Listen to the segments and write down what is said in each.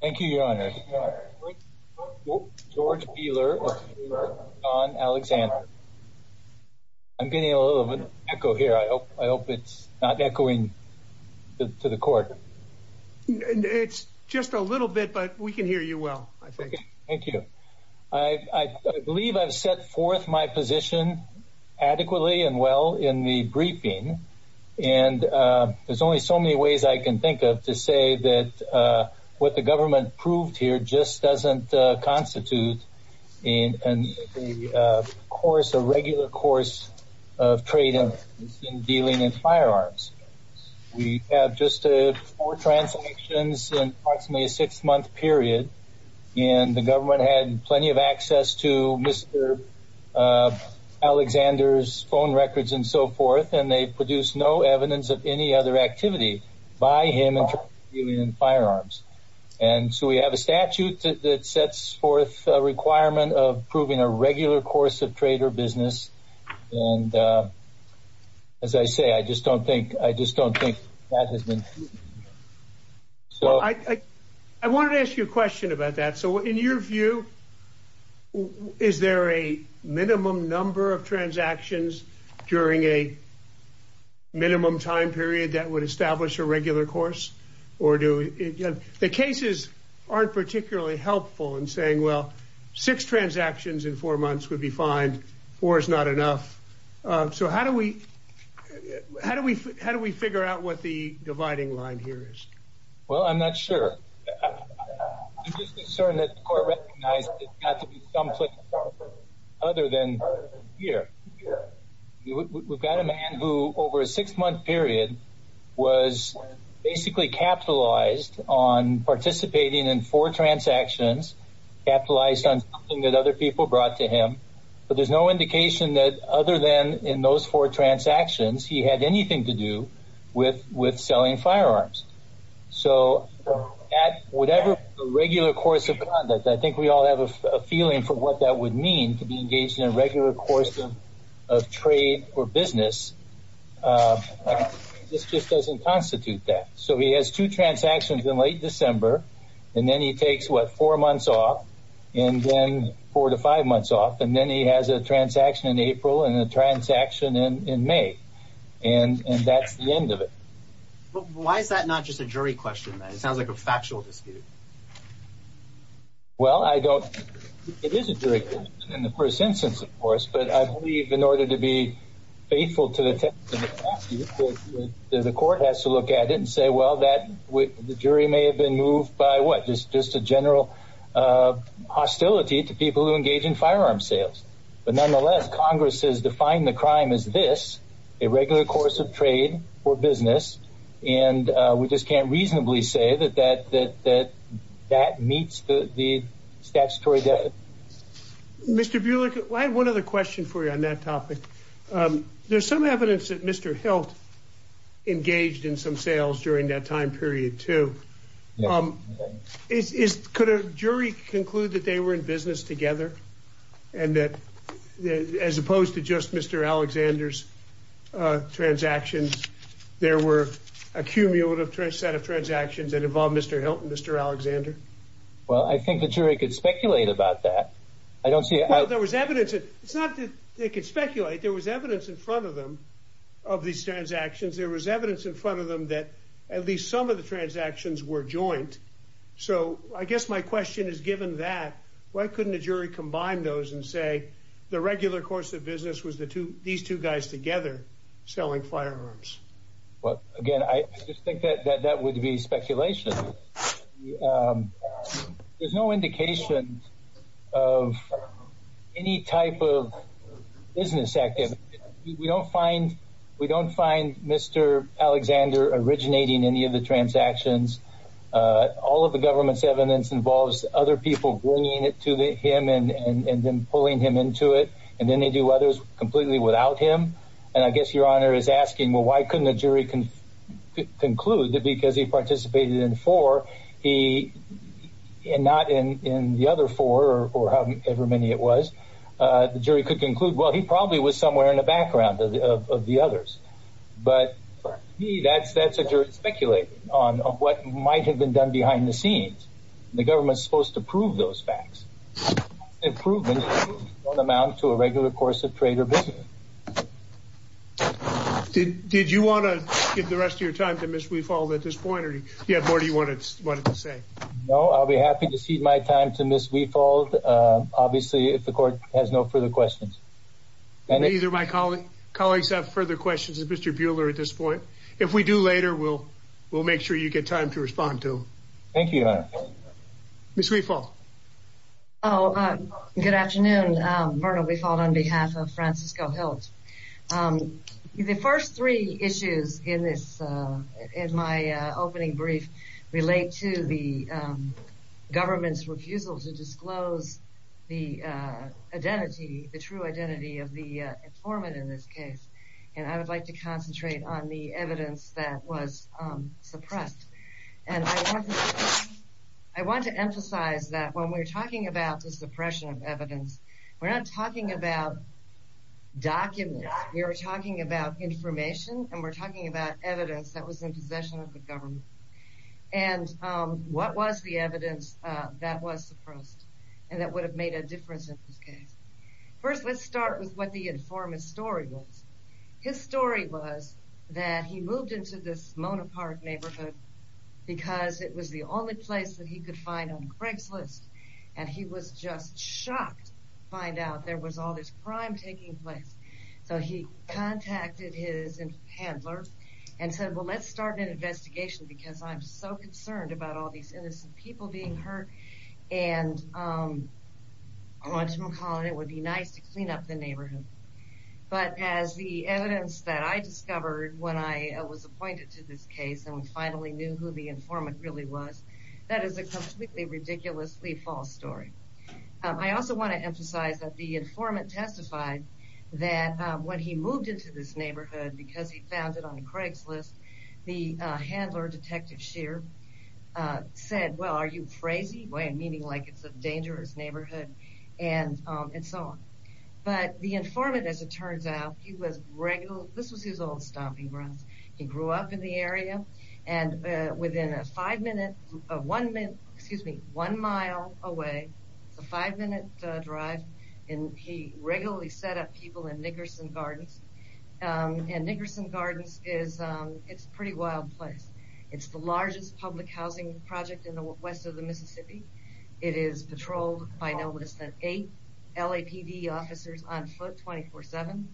Thank you, Your Honor. George Peeler v. Sean Alexander. I'm getting a little bit of an echo here. I hope it's not echoing to the Court. It's just a little bit, but we can hear you well, I think. Thank you. I believe I've set forth my position adequately and well in the briefing, and there's only so many ways I can think of to say that what the government proved here just doesn't constitute a regular course of trade in dealing in firearms. We have just four transactions in approximately a six-month period, and the government had plenty of access to Mr. Alexander's phone records and so forth, and they produced no evidence of any other activity by him in dealing in firearms. And so we have a statute that sets forth a requirement of proving a regular course of trade or business. And as I say, I just don't think that has been... Well, I wanted to ask you a question about that. So in your view, is there a minimum number of transactions during a minimum time period that would establish a regular course? The cases aren't particularly helpful in saying, well, six transactions in four months would be fine, four is not enough. So how do we figure out what the dividing line here is? Well, I'm not sure. I'm just concerned that the Court recognized it's got to be someplace other than here. We've got a man who over a six-month period was basically capitalized on participating in four transactions, capitalized on something that other people brought to him, but there's no indication that other than in those four transactions he had anything to do with selling firearms. So at whatever regular course of conduct, I think we all have a feeling for what that would mean, to be engaged in a regular course of trade or business. This just doesn't constitute that. So he has two transactions in late December, and then he takes, what, four months off, and then four to five months off, and then he has a transaction in April and a transaction in May. And that's the end of it. But why is that not just a jury question, then? It sounds like a factual dispute. Well, I don't think it is a jury question in the first instance, of course, but I believe in order to be faithful to the text of the statute, the Court has to look at it and say, well, the jury may have been moved by what, just a general hostility to people who engage in firearm sales. But nonetheless, Congress has defined the crime as this, a regular course of trade or business, and we just can't reasonably say that that meets the statutory definition. Mr. Bulick, I have one other question for you on that topic. There's some evidence that Mr. Hilt engaged in some sales during that time period, too. Could a jury conclude that they were in business together, and that as opposed to just Mr. Alexander's transactions, there were a cumulative set of transactions that involved Mr. Hilt and Mr. Alexander? Well, I think the jury could speculate about that. Well, there was evidence. It's not that they could speculate. There was evidence in front of them of these transactions. There was evidence in front of them that at least some of the transactions were joint. So I guess my question is, given that, why couldn't a jury combine those and say the regular course of business was these two guys together selling firearms? Well, again, I just think that that would be speculation. There's no indication of any type of business activity. We don't find Mr. Alexander originating any of the transactions. All of the government's evidence involves other people bringing it to him and then pulling him into it, and then they do others completely without him. And I guess Your Honor is asking, well, why couldn't a jury conclude that because he participated in four and not in the other four or however many it was, the jury could conclude, well, he probably was somewhere in the background of the others. But to me, that's a jury speculating on what might have been done behind the scenes. The government's supposed to prove those facts. Improvements don't amount to a regular course of trade or business. Did you want to give the rest of your time to Ms. Wefald at this point, or do you have more you wanted to say? No, I'll be happy to cede my time to Ms. Wefald. Obviously, if the court has no further questions. Neither of my colleagues have further questions of Mr. Buehler at this point. If we do later, we'll make sure you get time to respond to him. Thank you, Your Honor. Ms. Wefald. Good afternoon. Vernal Wefald on behalf of Francisco Hilt. The first three issues in my opening brief relate to the government's refusal to disclose the identity, the true identity of the informant in this case. And I would like to concentrate on the evidence that was suppressed. And I want to emphasize that when we're talking about the suppression of evidence, we're not talking about documents. We are talking about information, and we're talking about evidence that was in possession of the government. And what was the evidence that was suppressed and that would have made a difference in this case? First, let's start with what the informant's story was. His story was that he moved into this Mona Park neighborhood because it was the only place that he could find on Craigslist. And he was just shocked to find out there was all this crime taking place. So he contacted his handler and said, well, let's start an investigation because I'm so concerned about all these innocent people being hurt. And I want you to call in. It would be nice to clean up the neighborhood. But as the evidence that I discovered when I was appointed to this case and finally knew who the informant really was, that is a completely ridiculously false story. I also want to emphasize that the informant testified that when he moved into this neighborhood, because he found it on Craigslist, the handler, Detective Shear, said, well, are you crazy? Meaning like it's a dangerous neighborhood and so on. But the informant, as it turns out, he was regular. This was his old stomping grounds. He grew up in the area. And within a five minute, one minute, excuse me, one mile away, it's a five minute drive, and he regularly set up people in Nickerson Gardens. And Nickerson Gardens is, it's a pretty wild place. It's the largest public housing project in the west of the Mississippi. It is patrolled by no less than eight LAPD officers on foot 24-7.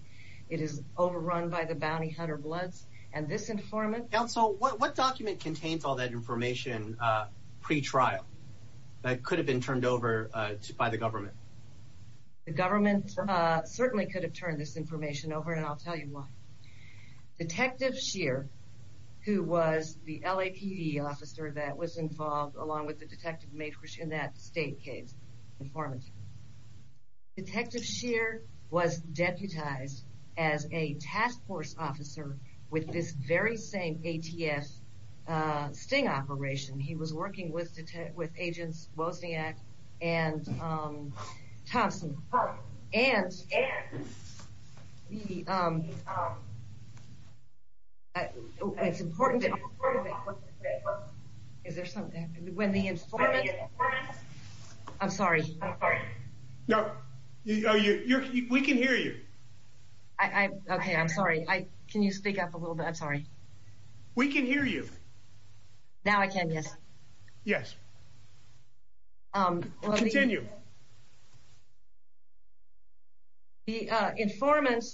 It is overrun by the Bounty Hunter Bloods. And this informant. Counsel, what document contains all that information pre-trial that could have been turned over by the government? The government certainly could have turned this information over, and I'll tell you why. Detective Shear, who was the LAPD officer that was involved, along with the Detective Makrish in that state case, informant. Detective Shear was deputized as a task force officer with this very same ATF sting operation. He was working with Agents Wozniak and Thompson. And it's important that, is there something, when the informant, I'm sorry. No, we can hear you. Okay, I'm sorry, can you speak up a little bit, I'm sorry. We can hear you. Now I can, yes. Yes. Continue. The informant,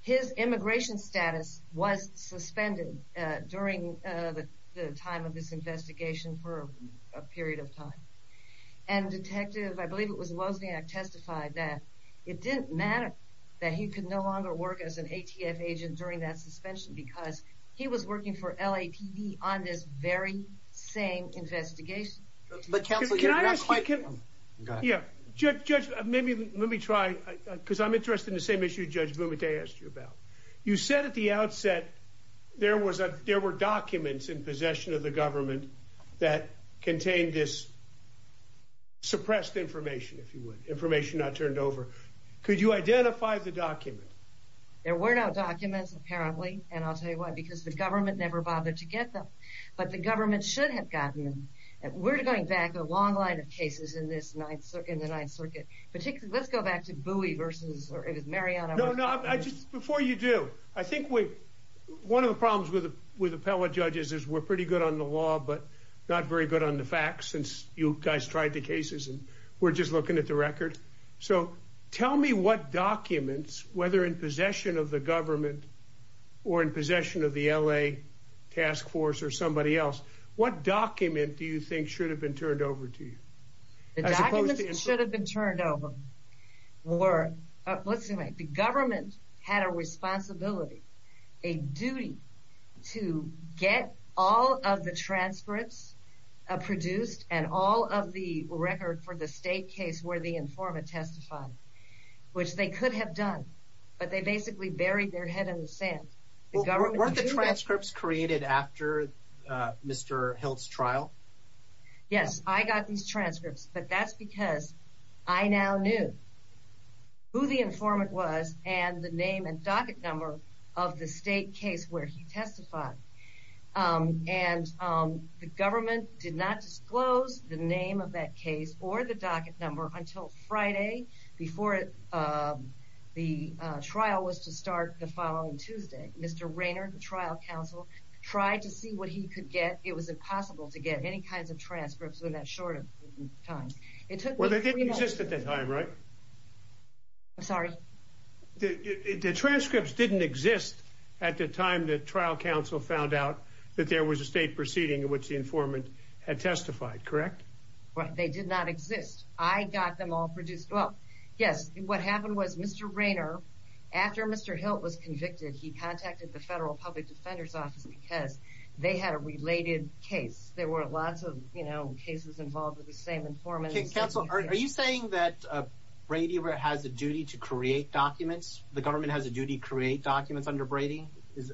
his immigration status was suspended during the time of this investigation for a period of time. And Detective, I believe it was Wozniak, testified that it didn't matter that he could no longer work as an ATF agent during that suspension because he was working for LAPD on this very same investigation. But Counsel, you're not quite... Yeah, Judge, maybe, let me try, because I'm interested in the same issue Judge Bumate asked you about. You said at the outset there were documents in possession of the government that contained this suppressed information, if you would, information not turned over. Could you identify the document? There were no documents, apparently, and I'll tell you why. Because the government never bothered to get them. But the government should have gotten them. We're going back a long line of cases in the Ninth Circuit. Let's go back to Bowie versus, or it was Mariano... No, no, before you do, I think one of the problems with appellate judges is we're pretty good on the law but not very good on the facts since you guys tried the cases and we're just looking at the record. So tell me what documents, whether in possession of the government or in possession of the L.A. task force or somebody else, what document do you think should have been turned over to you? The documents that should have been turned over were, let's see, the government had a responsibility, a duty to get all of the transcripts produced and all of the record for the state case where the informant testified, which they could have done. But they basically buried their head in the sand. Weren't the transcripts created after Mr. Hilt's trial? Yes, I got these transcripts, but that's because I now knew who the informant was and the name and docket number of the state case where he testified. And the government did not disclose the name of that case or the docket number until Friday before the trial was to start the following Tuesday. Mr. Rayner, the trial counsel, tried to see what he could get. It was impossible to get any kinds of transcripts in that short of time. Well, they didn't exist at the time, right? I'm sorry? The transcripts didn't exist at the time the trial counsel found out that there was a state proceeding in which the informant had testified, correct? They did not exist. I got them all produced. Well, yes, what happened was Mr. Rayner, after Mr. Hilt was convicted, he contacted the Federal Public Defender's Office because they had a related case. There were lots of cases involved with the same informant. Counsel, are you saying that Brady has a duty to create documents? The government has a duty to create documents under Brady? Is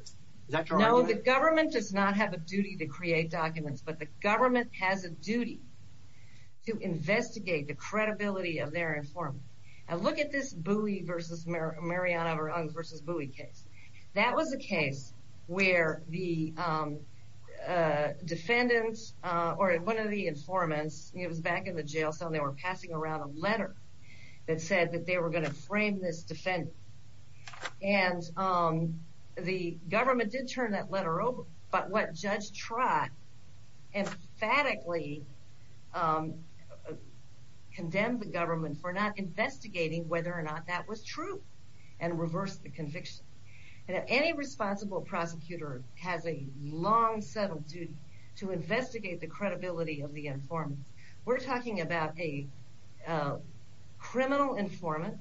that your argument? No, the government does not have a duty to create documents, but the government has a duty to investigate the credibility of their informant. Now, look at this Mariana vs. Bowie case. That was a case where the defendant, or one of the informants, he was back in the jail cell and they were passing around a letter that said that they were going to frame this defendant. And the government did turn that letter over, but what Judge Trott emphatically condemned the government for not investigating whether or not that was true and reversed the conviction. Any responsible prosecutor has a long-settled duty to investigate the credibility of the informant. We're talking about a criminal informant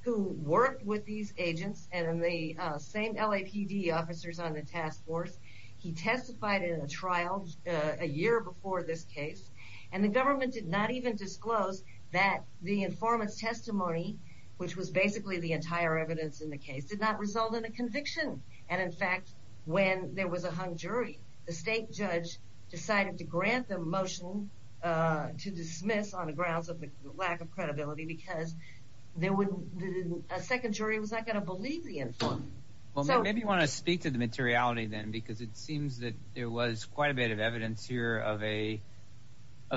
who worked with these agents and the same LAPD officers on the task force. He testified in a trial a year before this case, and the government did not even disclose that the informant's testimony, which was basically the entire evidence in the case, did not result in a conviction. And in fact, when there was a hung jury, the state judge decided to grant the motion to dismiss on the grounds of the lack of credibility because a second jury was not going to believe the informant. Well, maybe you want to speak to the materiality then because it seems that there was quite a bit of evidence here of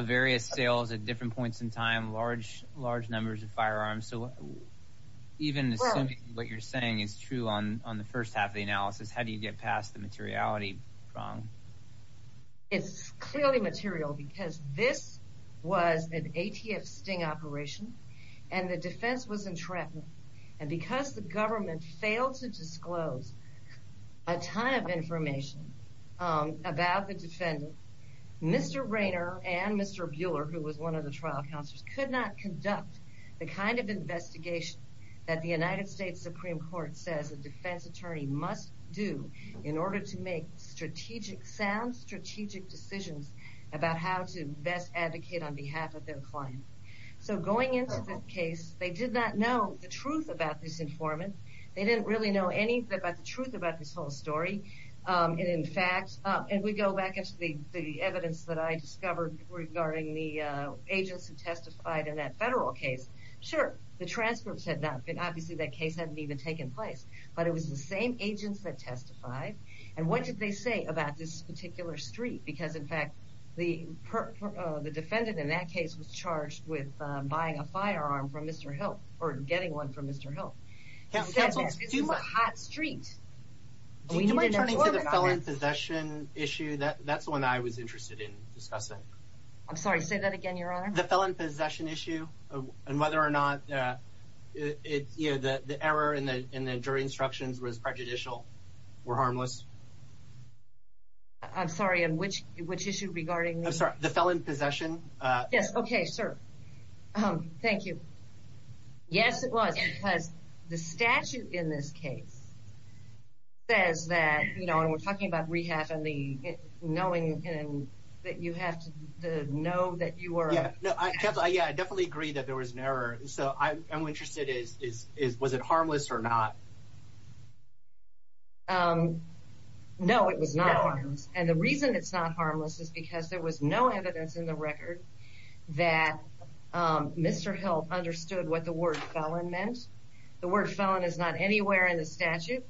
various sales at different points in time, large numbers of firearms. So even assuming what you're saying is true on the first half of the analysis, how do you get past the materiality prong? It's clearly material because this was an ATF sting operation and the defense was entrapment. And because the government failed to disclose a ton of information about the defendant, Mr. Rayner and Mr. Buehler, who was one of the trial counselors, could not conduct the kind of investigation that the United States Supreme Court says a defense attorney must do in order to make sound strategic decisions about how to best advocate on behalf of their client. So going into the case, they did not know the truth about this informant. They didn't really know anything about the truth about this whole story. And in fact, if we go back into the evidence that I discovered regarding the agents who testified in that federal case, sure, the transcripts had not been, obviously that case hadn't even taken place, but it was the same agents that testified. And what did they say about this particular street? Because in fact, the defendant in that case was charged with buying a firearm from Mr. Hilt, or getting one from Mr. Hilt. It's not a hot street. Do you mind turning to the felon possession issue? That's the one I was interested in discussing. I'm sorry, say that again, Your Honor. The felon possession issue and whether or not the error in the jury instructions was prejudicial, were harmless. I'm sorry, which issue regarding this? I'm sorry, the felon possession? Yes, okay, sir. Thank you. Yes, it was, because the statute in this case says that, and we're talking about rehab and knowing that you have to know that you were... Yeah, I definitely agree that there was an error. So I'm interested in was it harmless or not? No, it was not harmless. And the reason it's not harmless is because there was no evidence in the record that Mr. Hilt understood what the word felon meant. The word felon is not anywhere in the statute,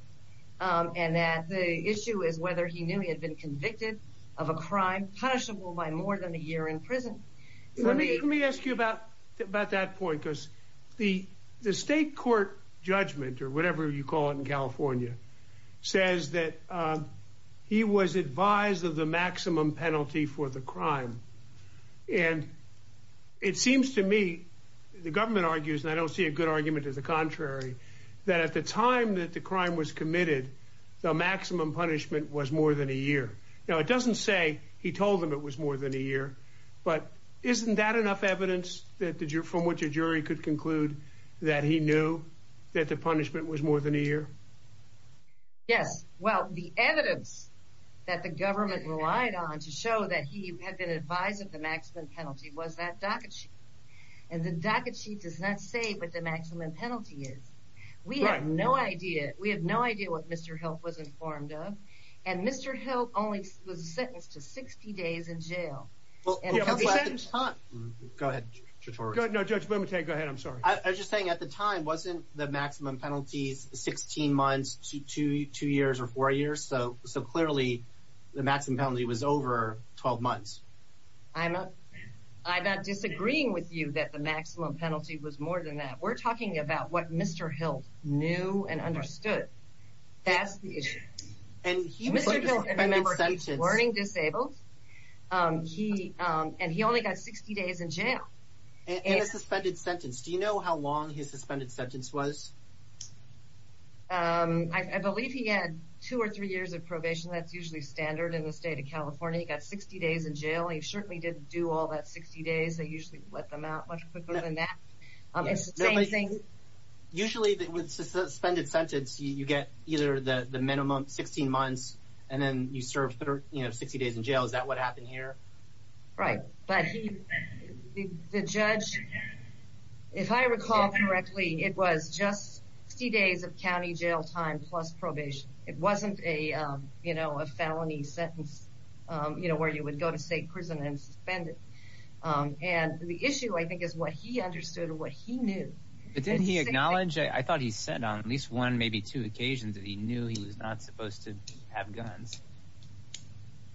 and that the issue is whether he knew he had been convicted of a crime punishable by more than a year in prison. Let me ask you about that point, because the state court judgment, or whatever you call it in California, says that he was advised of the maximum penalty for the crime. And it seems to me, the government argues, and I don't see a good argument to the contrary, that at the time that the crime was committed, the maximum punishment was more than a year. Now, it doesn't say he told them it was more than a year, but isn't that enough evidence from which a jury could conclude that he knew that the punishment was more than a year? Yes. Well, the evidence that the government relied on to show that he had been advised of the maximum penalty was that docket sheet. And the docket sheet does not say what the maximum penalty is. We have no idea what Mr. Hilt was informed of, and Mr. Hilt was sentenced to 60 days in jail. Go ahead, Judge Bumate. No, Judge Bumate, go ahead. I'm sorry. I was just saying, at the time, wasn't the maximum penalty 16 months, two years, or four years? So, clearly, the maximum penalty was over 12 months. I'm not disagreeing with you that the maximum penalty was more than that. We're talking about what Mr. Hilt knew and understood. That's the issue. And Mr. Hilt, remember, he's learning disabled, and he only got 60 days in jail. And a suspended sentence. Do you know how long his suspended sentence was? I believe he had two or three years of probation. That's usually standard in the state of California. He got 60 days in jail, and he certainly didn't do all that 60 days. They usually let them out much quicker than that. It's the same thing. Usually, with a suspended sentence, you get either the minimum 16 months, and then you serve 60 days in jail. Is that what happened here? Right, but the judge, if I recall correctly, it was just 60 days of county jail time plus probation. It wasn't a felony sentence where you would go to state prison and suspended. And the issue, I think, is what he understood and what he knew. But didn't he acknowledge? I thought he said on at least one, maybe two occasions, that he knew he was not supposed to have guns.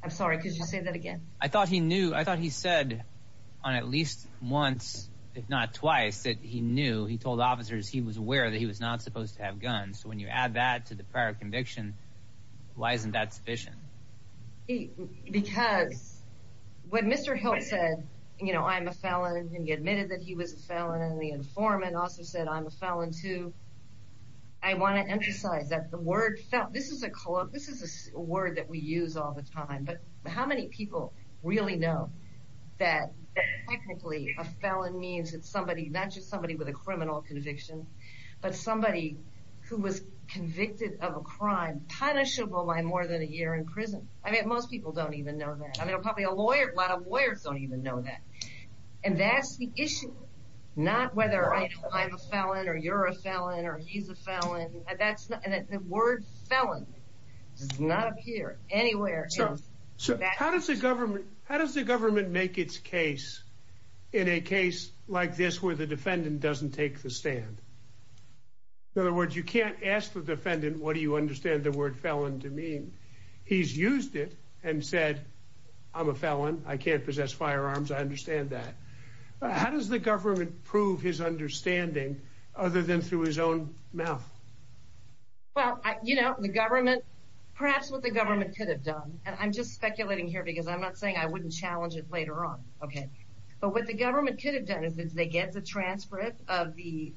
I'm sorry, could you say that again? I thought he knew. I thought he said on at least once, if not twice, that he knew. He told officers he was aware that he was not supposed to have guns. So when you add that to the prior conviction, why isn't that sufficient? Because when Mr. Hilt said, you know, I'm a felon, and he admitted that he was a felon, and the informant also said, I'm a felon too, I want to emphasize that the word felon. This is a word that we use all the time, but how many people really know that technically a felon means it's somebody, not just somebody with a criminal conviction, but somebody who was convicted of a crime punishable by more than a year in prison? I mean, most people don't even know that. I mean, probably a lot of lawyers don't even know that. And that's the issue. Not whether I'm a felon or you're a felon or he's a felon. The word felon does not appear anywhere. So how does the government make its case in a case like this where the defendant doesn't take the stand? In other words, you can't ask the defendant, what do you understand the word felon to mean? He's used it and said, I'm a felon. I can't possess firearms. I understand that. How does the government prove his understanding other than through his own mouth? Well, you know, the government, perhaps what the government could have done, and I'm just speculating here because I'm not saying I wouldn't challenge it later on, but what the government could have done is they get the transcript of the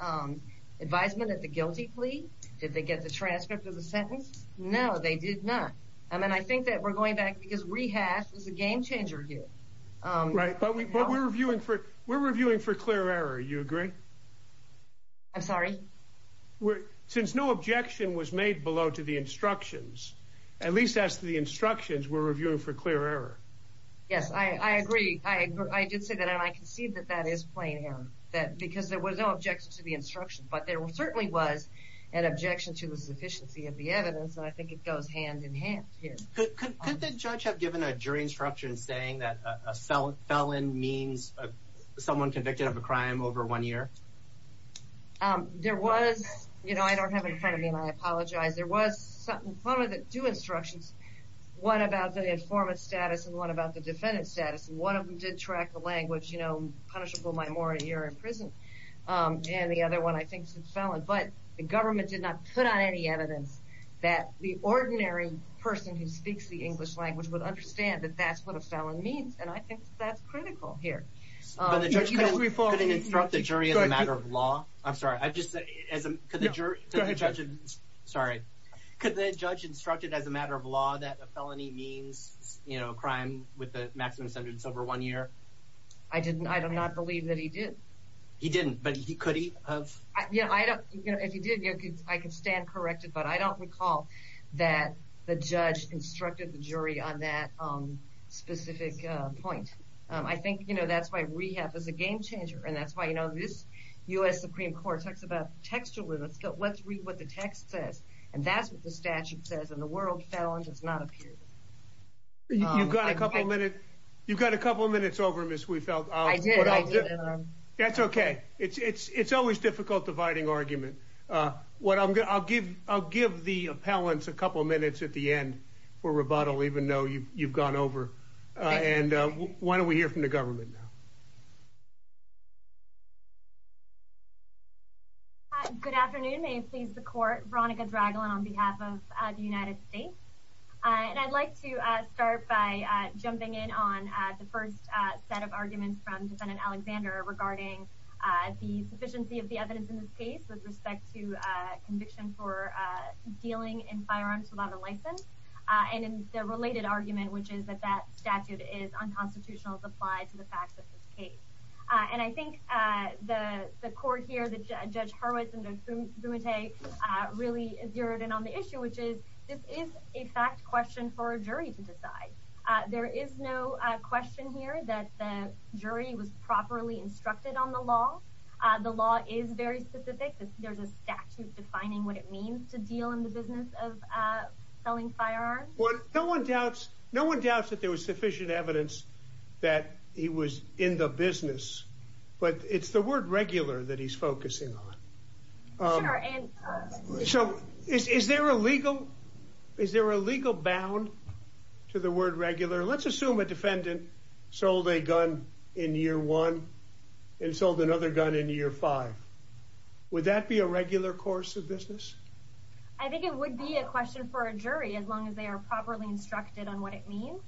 advisement at the guilty plea. Did they get the transcript of the sentence? No, they did not. And I think that we're going back because rehash is a game changer here. Right, but we're reviewing for clear error. Do you agree? I'm sorry? Since no objection was made below to the instructions, at least as to the instructions, we're reviewing for clear error. Yes, I agree. I did say that, and I concede that that is plain error because there was no objection to the instructions, but there certainly was an objection to the sufficiency of the evidence, and I think it goes hand-in-hand here. Could the judge have given a jury instruction saying that a felon means someone convicted of a crime over one year? There was, you know, I don't have it in front of me and I apologize. There was, in front of the two instructions, one about the informant's status and one about the defendant's status, and one of them did track the language, you know, punishable by more than a year in prison, and the other one, I think, said felon. But the government did not put on any evidence that the ordinary person who speaks the English language would understand that that's what a felon means, and I think that's critical here. But the judge couldn't instruct the jury as a matter of law? I'm sorry, could the judge instruct it as a matter of law that a felony means, you know, a crime with a maximum sentence over one year? I do not believe that he did. He didn't, but could he have? You know, if he did, I can stand corrected, but I don't recall that the judge instructed the jury on that specific point. I think, you know, that's why rehab is a game changer, and that's why, you know, this U.S. Supreme Court talks about textual limits, but let's read what the text says, and that's what the statute says, and the word felon does not appear. You've got a couple of minutes over, Ms. Wiefeld. I did, I did. That's okay. It's always difficult dividing argument. I'll give the appellants a couple of minutes at the end for rebuttal, even though you've gone over. And why don't we hear from the government now? Good afternoon. May it please the Court. Veronica Dragolin on behalf of the United States. And I'd like to start by jumping in on the first set of arguments from Defendant Alexander regarding the sufficiency of the evidence in this case with respect to conviction for dealing in firearms without a license, and in the related argument, which is that that statute is unconstitutional as applied to the facts of this case. And I think the court here, Judge Hurwitz and Judge Bumate, really zeroed in on the issue, which is, this is a fact question for a jury to decide. There is no question here that the jury was properly instructed on the law. The law is very specific. There's a statute defining what it means to deal in the business of selling firearms. No one doubts that there was sufficient evidence that he was in the business, but it's the word regular that he's focusing on. So is there a legal bound to the word regular? Let's assume a defendant sold a gun in year one and sold another gun in year five. Would that be a regular course of business? I think it would be a question for a jury, as long as they are properly instructed on what it means.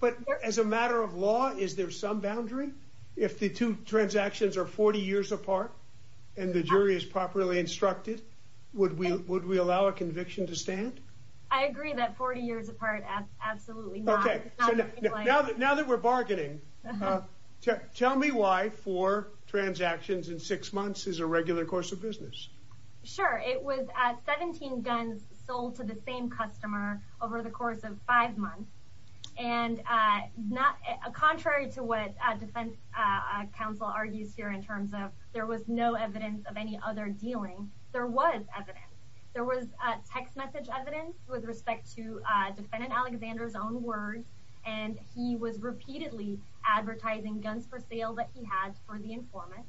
But as a matter of law, is there some boundary? If the two transactions are 40 years apart and the jury is properly instructed, would we allow a conviction to stand? I agree that 40 years apart, absolutely not. Now that we're bargaining, tell me why four transactions in six months is a regular course of business. Sure. It was 17 guns sold to the same customer over the course of five months. Contrary to what a defense counsel argues here in terms of there was no evidence of any other dealing, there was evidence. There was text message evidence with respect to defendant Alexander's own words, and he was repeatedly advertising guns for sale that he had for the informant.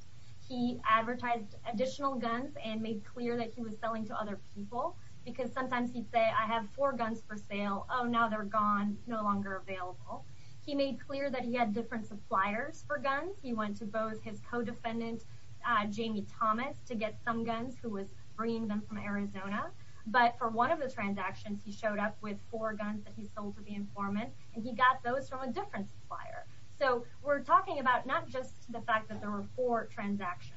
He advertised additional guns and made clear that he was selling to other people, because sometimes he'd say, I have four guns for sale, oh, now they're gone, no longer available. He made clear that he had different suppliers for guns. He went to both his co-defendant, Jamie Thomas, to get some guns, who was bringing them from Arizona. But for one of the transactions, he showed up with four guns that he sold to the informant, and he got those from a different supplier. So we're talking about not just the fact that there were four transactions.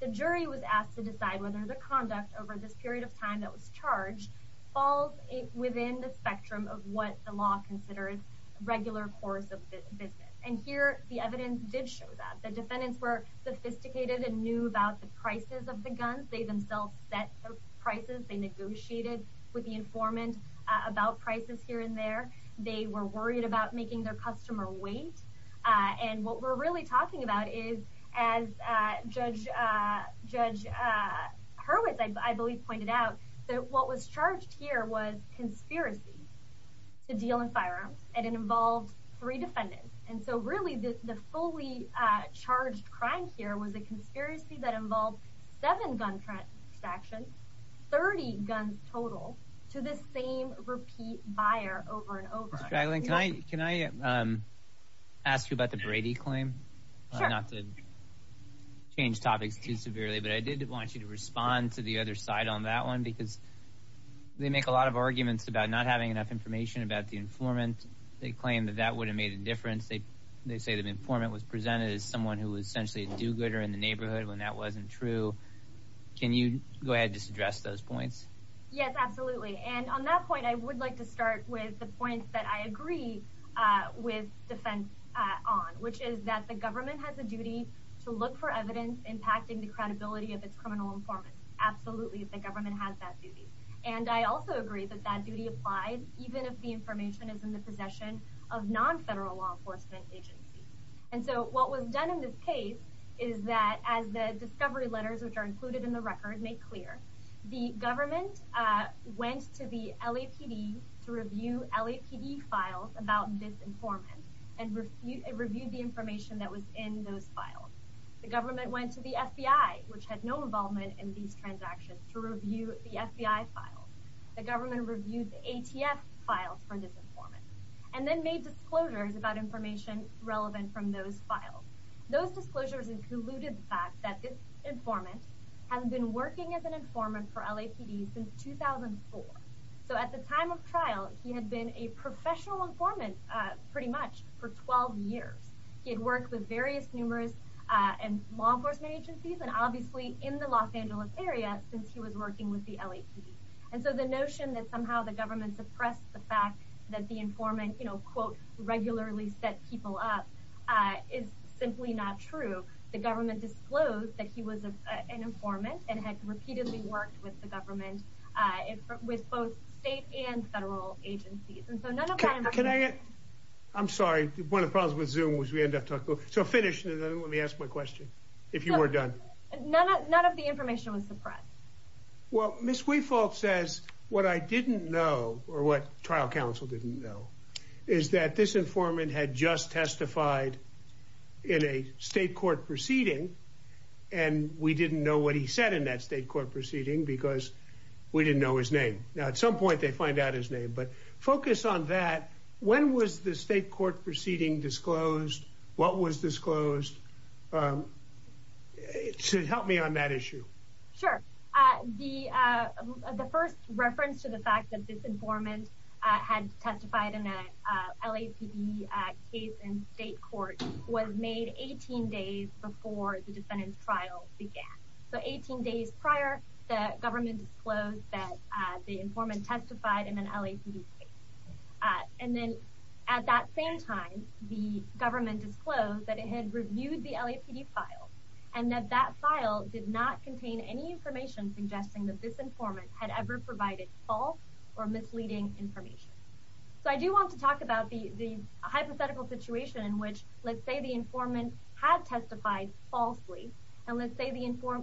The jury was asked to decide whether the conduct over this period of time that was charged falls within the spectrum of what the law considers regular course of business. And here the evidence did show that. The defendants were sophisticated and knew about the prices of the guns. They themselves set the prices. They negotiated with the informant about prices here and there. They were worried about making their customer wait. And what we're really talking about is, as Judge Hurwitz, I believe, pointed out, that what was charged here was conspiracy to deal in firearms, and it involved three defendants. And so really the fully charged crime here was a conspiracy that involved seven gun transactions, 30 guns total, to the same repeat buyer over and over. Ms. Straglin, can I ask you about the Brady claim? Sure. Not to change topics too severely, but I did want you to respond to the other side on that one because they make a lot of arguments about not having enough information about the informant. They claim that that would have made a difference. They say the informant was presented as someone who was essentially a do-gooder in the neighborhood when that wasn't true. Can you go ahead and just address those points? Yes, absolutely. And on that point, I would like to start with the point that I agree with defense on, which is that the government has a duty to look for evidence impacting the credibility of its criminal informant. Absolutely, the government has that duty. And I also agree that that duty applies even if the information is in the possession of non-federal law enforcement agencies. And so what was done in this case is that as the discovery letters, which are included in the record, make clear, the government went to the LAPD to review LAPD files about this informant and reviewed the information that was in those files. The government went to the FBI, which had no involvement in these transactions, to review the FBI files. The government reviewed the ATF files for this informant and then made disclosures about information relevant from those files. Those disclosures included the fact that this informant had been working as an informant for LAPD since 2004. So at the time of trial, he had been a professional informant pretty much for 12 years. He had worked with various numerous law enforcement agencies, and obviously in the Los Angeles area since he was working with the LAPD. And so the notion that somehow the government suppressed the fact that the informant quote, regularly set people up is simply not true. The government disclosed that he was an informant and had repeatedly worked with the government with both state and federal agencies. I'm sorry. One of the problems with Zoom was we ended up talking. So finish, and then let me ask my question, if you were done. None of the information was suppressed. Well, Ms. Weefault says what I didn't know, or what trial counsel didn't know, is that this informant had just testified in a state court proceeding, and we didn't know what he said in that state court proceeding because we didn't know his name. Now, at some point they find out his name, but focus on that. When was the state court proceeding disclosed? What was disclosed? Help me on that issue. Sure. The first reference to the fact that this informant had testified in a LAPD case in state court was made 18 days before the defendant's trial began. So 18 days prior, the government disclosed that the informant testified in an LAPD case. And then at that same time, the government disclosed that it had reviewed the LAPD file and that that file did not contain any information suggesting that this informant had ever provided false or misleading information. So I do want to talk about the hypothetical situation in which, let's say, the informant had testified falsely, and let's say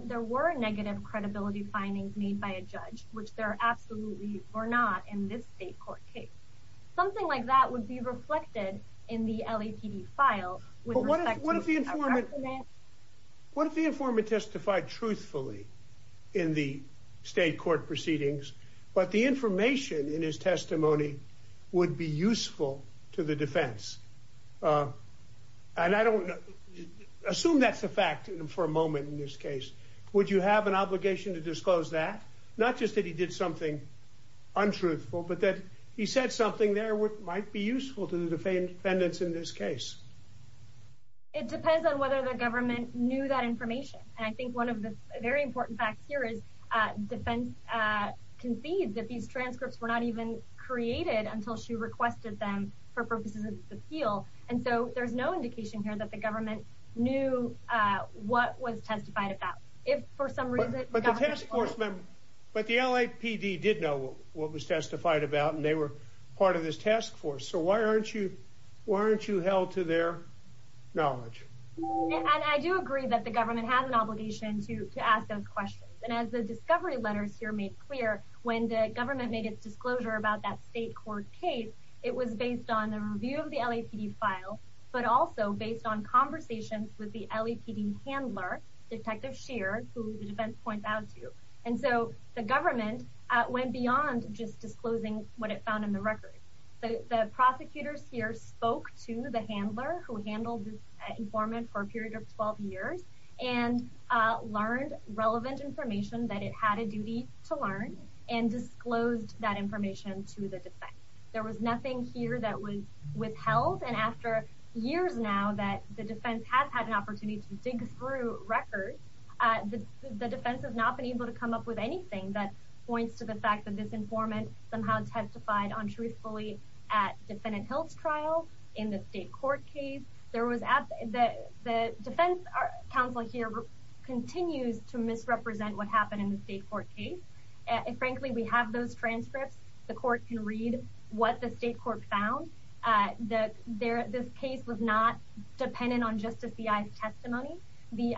there were negative credibility findings made by a judge, which there absolutely were not in this state court case. Something like that would be reflected in the LAPD file. What if the informant testified truthfully in the state court proceedings, but the information in his testimony would be useful to the defense? And I don't know. Assume that's a fact for a moment in this case. Would you have an obligation to disclose that? Not just that he did something untruthful, but that he said something there that might be useful to the defendants in this case. It depends on whether the government knew that information. And I think one of the very important facts here is defense concedes that these transcripts were not even created until she requested them for purposes of this appeal, and so there's no indication here that the government knew what was testified about. If, for some reason, it got to the court. But the LAPD did know what was testified about, and they were part of this task force. So why aren't you held to their knowledge? And I do agree that the government has an obligation to ask those questions. And as the discovery letters here made clear, when the government made its disclosure about that state court case, it was based on the review of the LAPD file, but also based on conversations with the LAPD handler, Detective Scheer, who the defense points out to. And so the government went beyond just disclosing what it found in the record. The prosecutors here spoke to the handler, who handled this informant for a period of 12 years, and learned relevant information that it had a duty to learn, and disclosed that information to the defense. There was nothing here that was withheld, and after years now that the defense has had an opportunity to dig through records, the defense has not been able to come up with anything that points to the fact that this informant somehow testified untruthfully at defendant Hill's trial, in the state court case. The defense counsel here continues to misrepresent what happened in the state court case. And frankly, we have those transcripts. The court can read what the state court found. This case was not dependent on just a C.I.'s testimony. The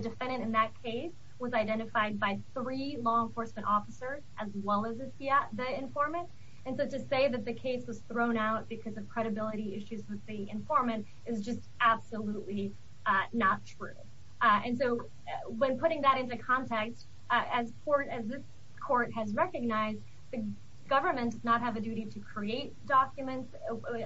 defendant in that case was identified by three law enforcement officers, as well as the informant. And so to say that the case was thrown out because of credibility issues with the informant is just absolutely not true. And so when putting that into context, as this court has recognized, the government does not have a duty to create documents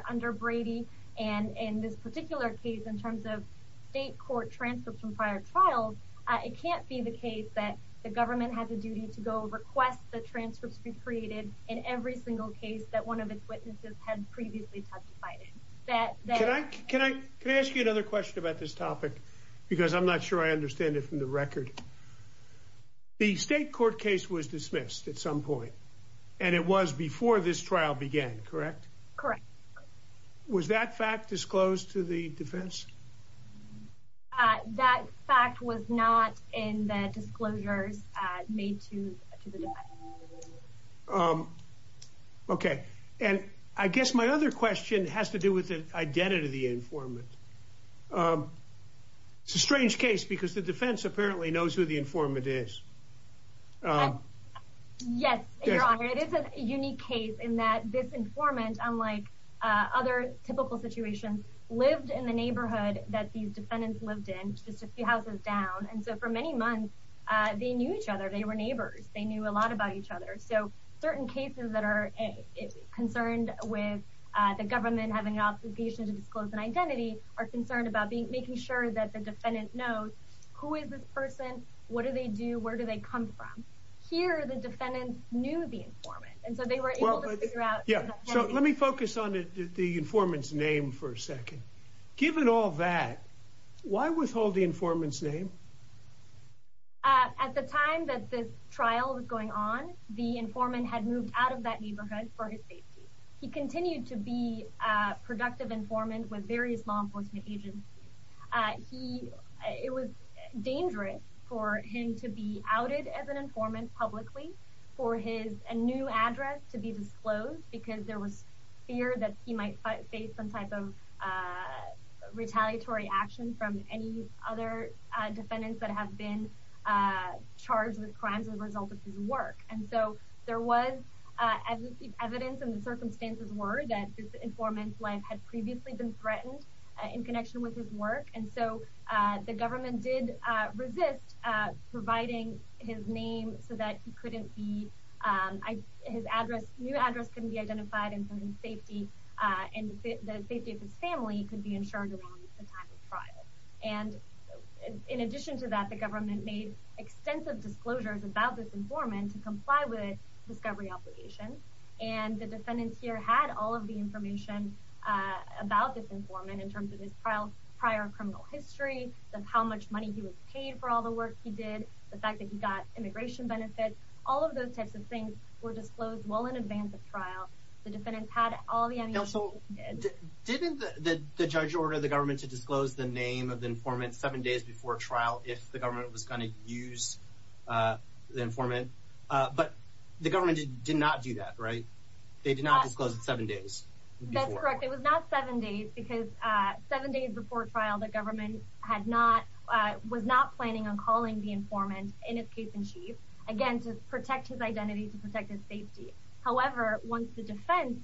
under Brady. And in this particular case, in terms of state court transcripts from prior trials, it can't be the case that the government has a duty to go request the transcripts be created in every single case that one of its witnesses had previously testified in. Can I ask you another question about this topic? Because I'm not sure I understand it from the record. The state court case was dismissed at some point, and it was before this trial began, correct? Correct. Was that fact disclosed to the defense? That fact was not in the disclosures made to the defense. Okay. And I guess my other question has to do with the identity of the informant. It's a strange case because the defense apparently knows who the informant is. Yes, Your Honor. It is a unique case in that this informant, unlike other typical situations, lived in the neighborhood that these defendants lived in, just a few houses down. And so for many months, they knew each other. They were neighbors. They knew a lot about each other. So certain cases that are concerned with the government having an obligation to disclose an identity are concerned about making sure that the defendant knows who is this person, what do they do, where do they come from. Here, the defendants knew the informant, and so they were able to figure out. Yeah, so let me focus on the informant's name for a second. Given all that, why withhold the informant's name? At the time that this trial was going on, the informant had moved out of that neighborhood for his safety. He continued to be a productive informant with various law enforcement agencies. It was dangerous for him to be outed as an informant publicly, for his new address to be disclosed, because there was fear that he might face some type of retaliatory action from any other defendants that have been charged with crimes as a result of his work. And so there was evidence, and the circumstances were, that this informant's life had previously been threatened in connection with his work. And so the government did resist providing his name so that he couldn't be – his new address couldn't be identified, and the safety of his family could be ensured around the time of trial. And in addition to that, the government made extensive disclosures about this informant to comply with discovery obligations, and the defendants here had all of the information about this informant in terms of his prior criminal history, how much money he was paid for all the work he did, the fact that he got immigration benefits. All of those types of things were disclosed well in advance of trial. The defendants had all the information they needed. Didn't the judge order the government to disclose the name of the informant seven days before trial if the government was going to use the informant? But the government did not do that, right? They did not disclose it seven days before. That's correct. It was not seven days, because seven days before trial the government was not planning on calling the informant, in its case in chief, again, to protect his identity, to protect his safety. However, once the defense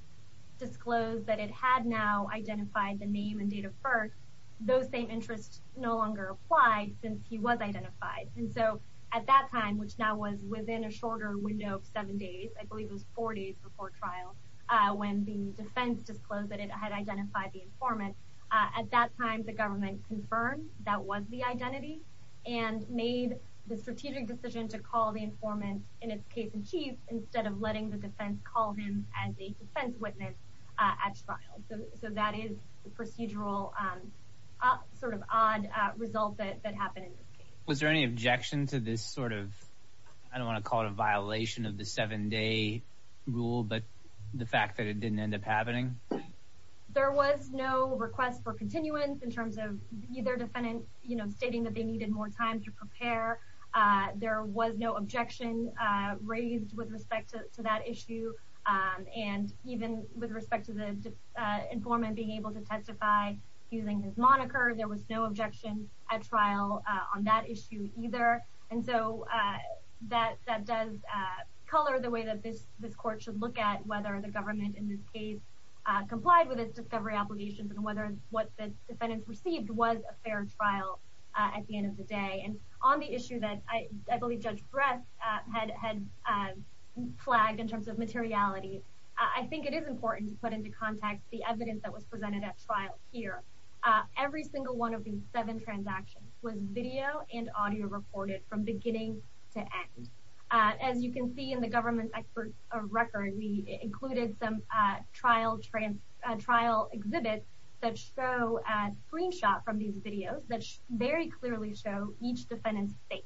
disclosed that it had now identified the name and date of birth, those same interests no longer applied since he was identified. And so at that time, which now was within a shorter window of seven days, I believe it was four days before trial, when the defense disclosed that it had identified the informant, at that time the government confirmed that was the identity and made the strategic decision to call the informant, in its case in chief, instead of letting the defense call him as a defense witness at trial. So that is the procedural sort of odd result that happened in this case. Was there any objection to this sort of, I don't want to call it a violation of the seven-day rule, but the fact that it didn't end up happening? There was no request for continuance in terms of either defendant stating that they needed more time to prepare. There was no objection raised with respect to that issue. And even with respect to the informant being able to testify using his moniker, there was no objection at trial on that issue either. And so that does color the way that this court should look at whether the government, in this case, complied with its discovery obligations and whether what the defendants received was a fair trial at the end of the day. And on the issue that I believe Judge Bress had flagged in terms of materiality, I think it is important to put into context the evidence that was presented at trial here. Every single one of these seven transactions was video and audio recorded from beginning to end. As you can see in the government's expert record, we included some trial exhibits that show a screenshot from these videos that very clearly show each defendant's face.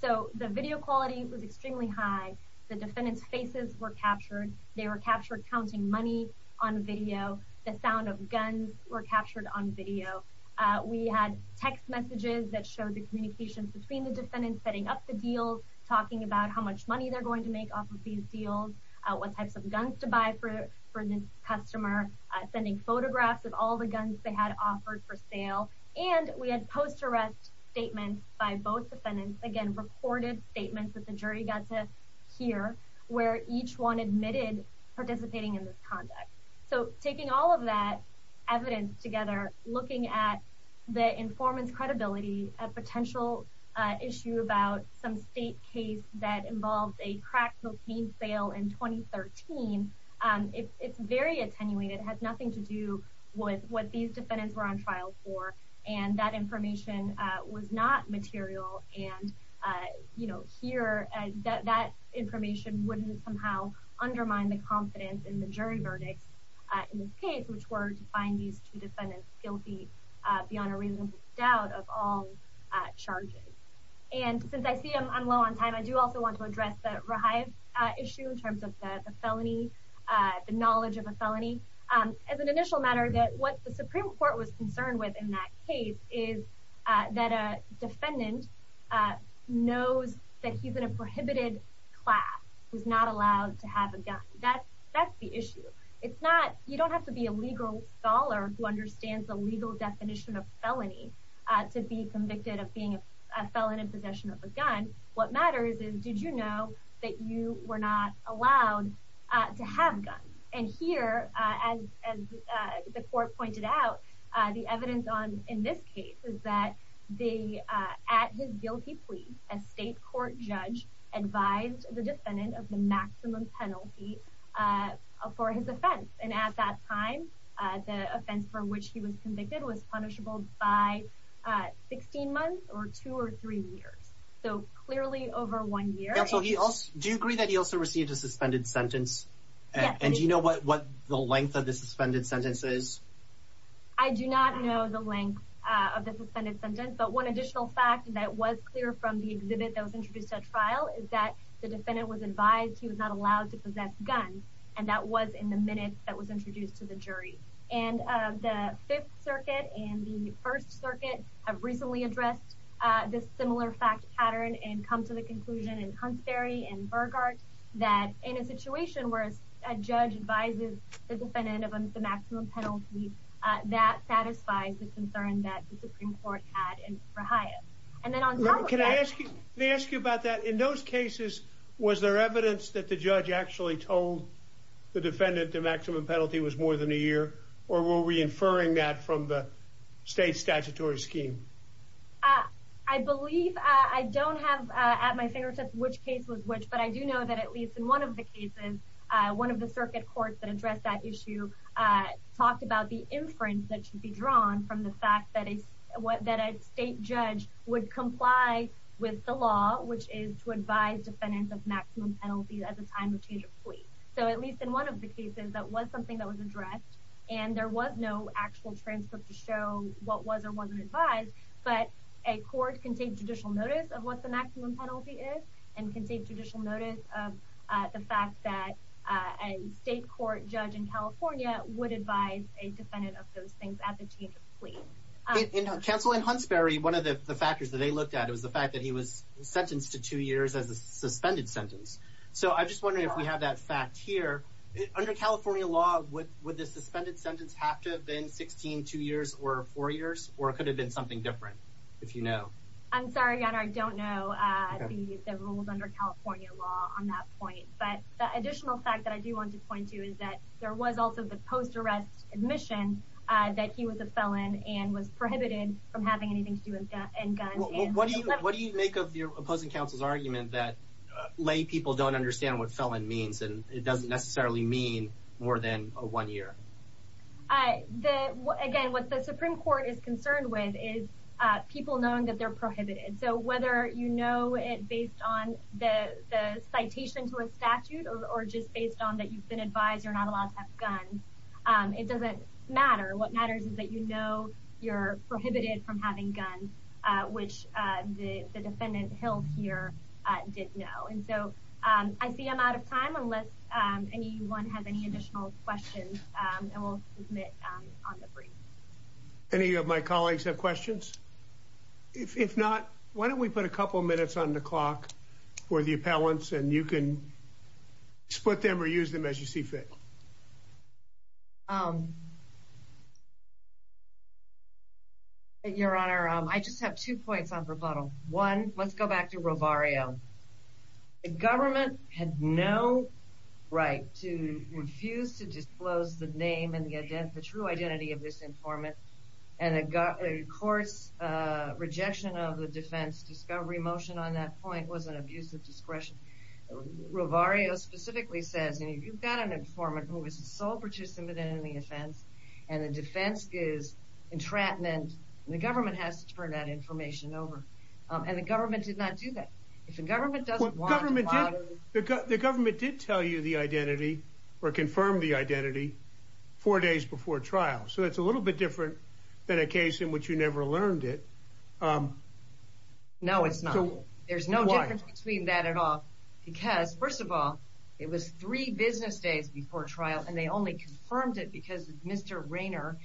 So the video quality was extremely high. The defendants' faces were captured. They were captured counting money on video. The sound of guns were captured on video. We had text messages that showed the communications between the defendants, setting up the deals, talking about how much money they're going to make off of these deals, what types of guns to buy for this customer, sending photographs of all the guns they had offered for sale. And we had post-arrest statements by both defendants, again, recorded statements that the jury got to hear where each one admitted participating in this conduct. So taking all of that evidence together, looking at the informant's credibility, a potential issue about some state case that involved a crack cocaine sale in 2013, it's very attenuated. It has nothing to do with what these defendants were on trial for, and that information was not material. And here, that information wouldn't somehow undermine the confidence in the jury verdicts in this case, which were to find these two defendants guilty beyond a reasonable doubt of all charges. And since I see I'm low on time, I do also want to address the Rahaev issue in terms of the felony, the knowledge of a felony. As an initial matter, what the Supreme Court was concerned with in that case is that a defendant knows that he's in a prohibited class, he's not allowed to have a gun. That's the issue. You don't have to be a legal scholar who understands the legal definition of felony to be convicted of being a felon in possession of a gun. What matters is, did you know that you were not allowed to have guns? And here, as the court pointed out, the evidence in this case is that at his guilty plea, a state court judge advised the defendant of the maximum penalty for his offense. And at that time, the offense for which he was convicted was punishable by 16 months or two or three years. So clearly over one year. Do you agree that he also received a suspended sentence? Yes. And do you know what the length of the suspended sentence is? I do not know the length of the suspended sentence, but one additional fact that was clear from the exhibit that was introduced at trial is that the defendant was advised he was not allowed to possess guns, and that was in the minutes that was introduced to the jury. And the Fifth Circuit and the First Circuit have recently addressed this similar fact pattern and come to the conclusion in Huntsbury and Burggard that in a situation where a judge advises the defendant of the maximum penalty, that satisfies the concern that the Supreme Court had for Hyatt. Can I ask you about that? In those cases, was there evidence that the judge actually told the defendant that the maximum penalty was more than a year, or were we inferring that from the state statutory scheme? I believe I don't have at my fingertips which case was which, but I do know that at least in one of the cases, one of the circuit courts that addressed that issue talked about the inference that should be drawn from the fact that a state judge would comply with the law, which is to advise defendants of maximum penalty at the time of change of plea. So at least in one of the cases, that was something that was addressed, and there was no actual transcript to show what was or wasn't advised, but a court can take judicial notice of what the maximum penalty is and can take judicial notice of the fact that a state court judge in California would advise a defendant of those things at the change of plea. Counsel, in Huntsbury, one of the factors that they looked at was the fact that he was sentenced to two years as a suspended sentence. So I'm just wondering if we have that fact here. Under California law, would the suspended sentence have to have been 16, two years, or four years, or could it have been something different, if you know? I'm sorry, Your Honor, I don't know the rules under California law on that point, but the additional fact that I do want to point to is that there was also the post-arrest admission that he was a felon and was prohibited from having anything to do with guns. What do you make of your opposing counsel's argument that lay people don't understand what felon means and it doesn't necessarily mean more than one year? Again, what the Supreme Court is concerned with is people knowing that they're prohibited. So whether you know it based on the citation to a statute or just based on that you've been advised you're not allowed to have guns, it doesn't matter. What matters is that you know you're prohibited from having guns, which the defendant held here did know. And so I see I'm out of time unless anyone has any additional questions, and we'll submit on the brief. Any of my colleagues have questions? If not, why don't we put a couple minutes on the clock for the appellants, and you can split them or use them as you see fit. Your Honor, I just have two points on rebuttal. One, let's go back to Rovario. The government had no right to refuse to disclose the name and the true identity of this informant, and the court's rejection of the defense discovery motion on that point was an abuse of discretion. Rovario specifically says if you've got an informant who is a sole participant in the offense and the defense gives entrapment, the government has to turn that information over. And the government did not do that. The government did tell you the identity or confirm the identity four days before trial, so it's a little bit different than a case in which you never learned it. No, it's not. There's no difference between that at all. Because, first of all, it was three business days before trial, and they only confirmed it because Mr. Rayner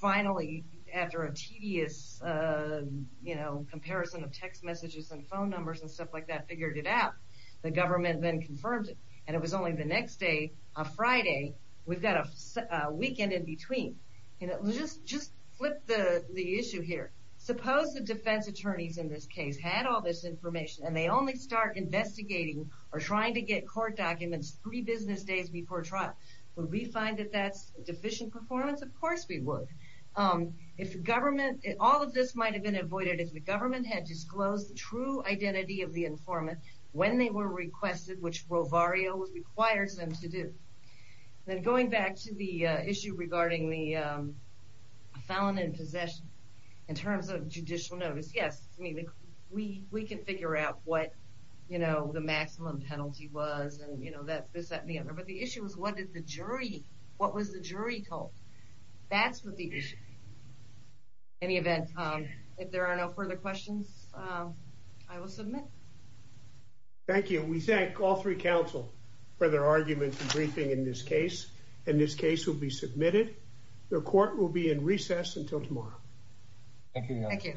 finally, after a tedious comparison of text messages and phone numbers and stuff like that, figured it out. The government then confirmed it, and it was only the next day on Friday. We've got a weekend in between. Just flip the issue here. Suppose the defense attorneys in this case had all this information, and they only start investigating or trying to get court documents three business days before trial. Would we find that that's deficient performance? Of course we would. All of this might have been avoided if the government had disclosed the true identity of the informant when they were requested, which Rovario requires them to do. Then going back to the issue regarding the felon in possession, in terms of judicial notice, yes, we can figure out what the maximum penalty was, and this, that, and the other, but the issue is what was the jury told? That's what the issue is. In any event, if there are no further questions, I will submit. Thank you. We thank all three counsel for their arguments and briefing in this case, and this case will be submitted. The court will be in recess until tomorrow. Thank you.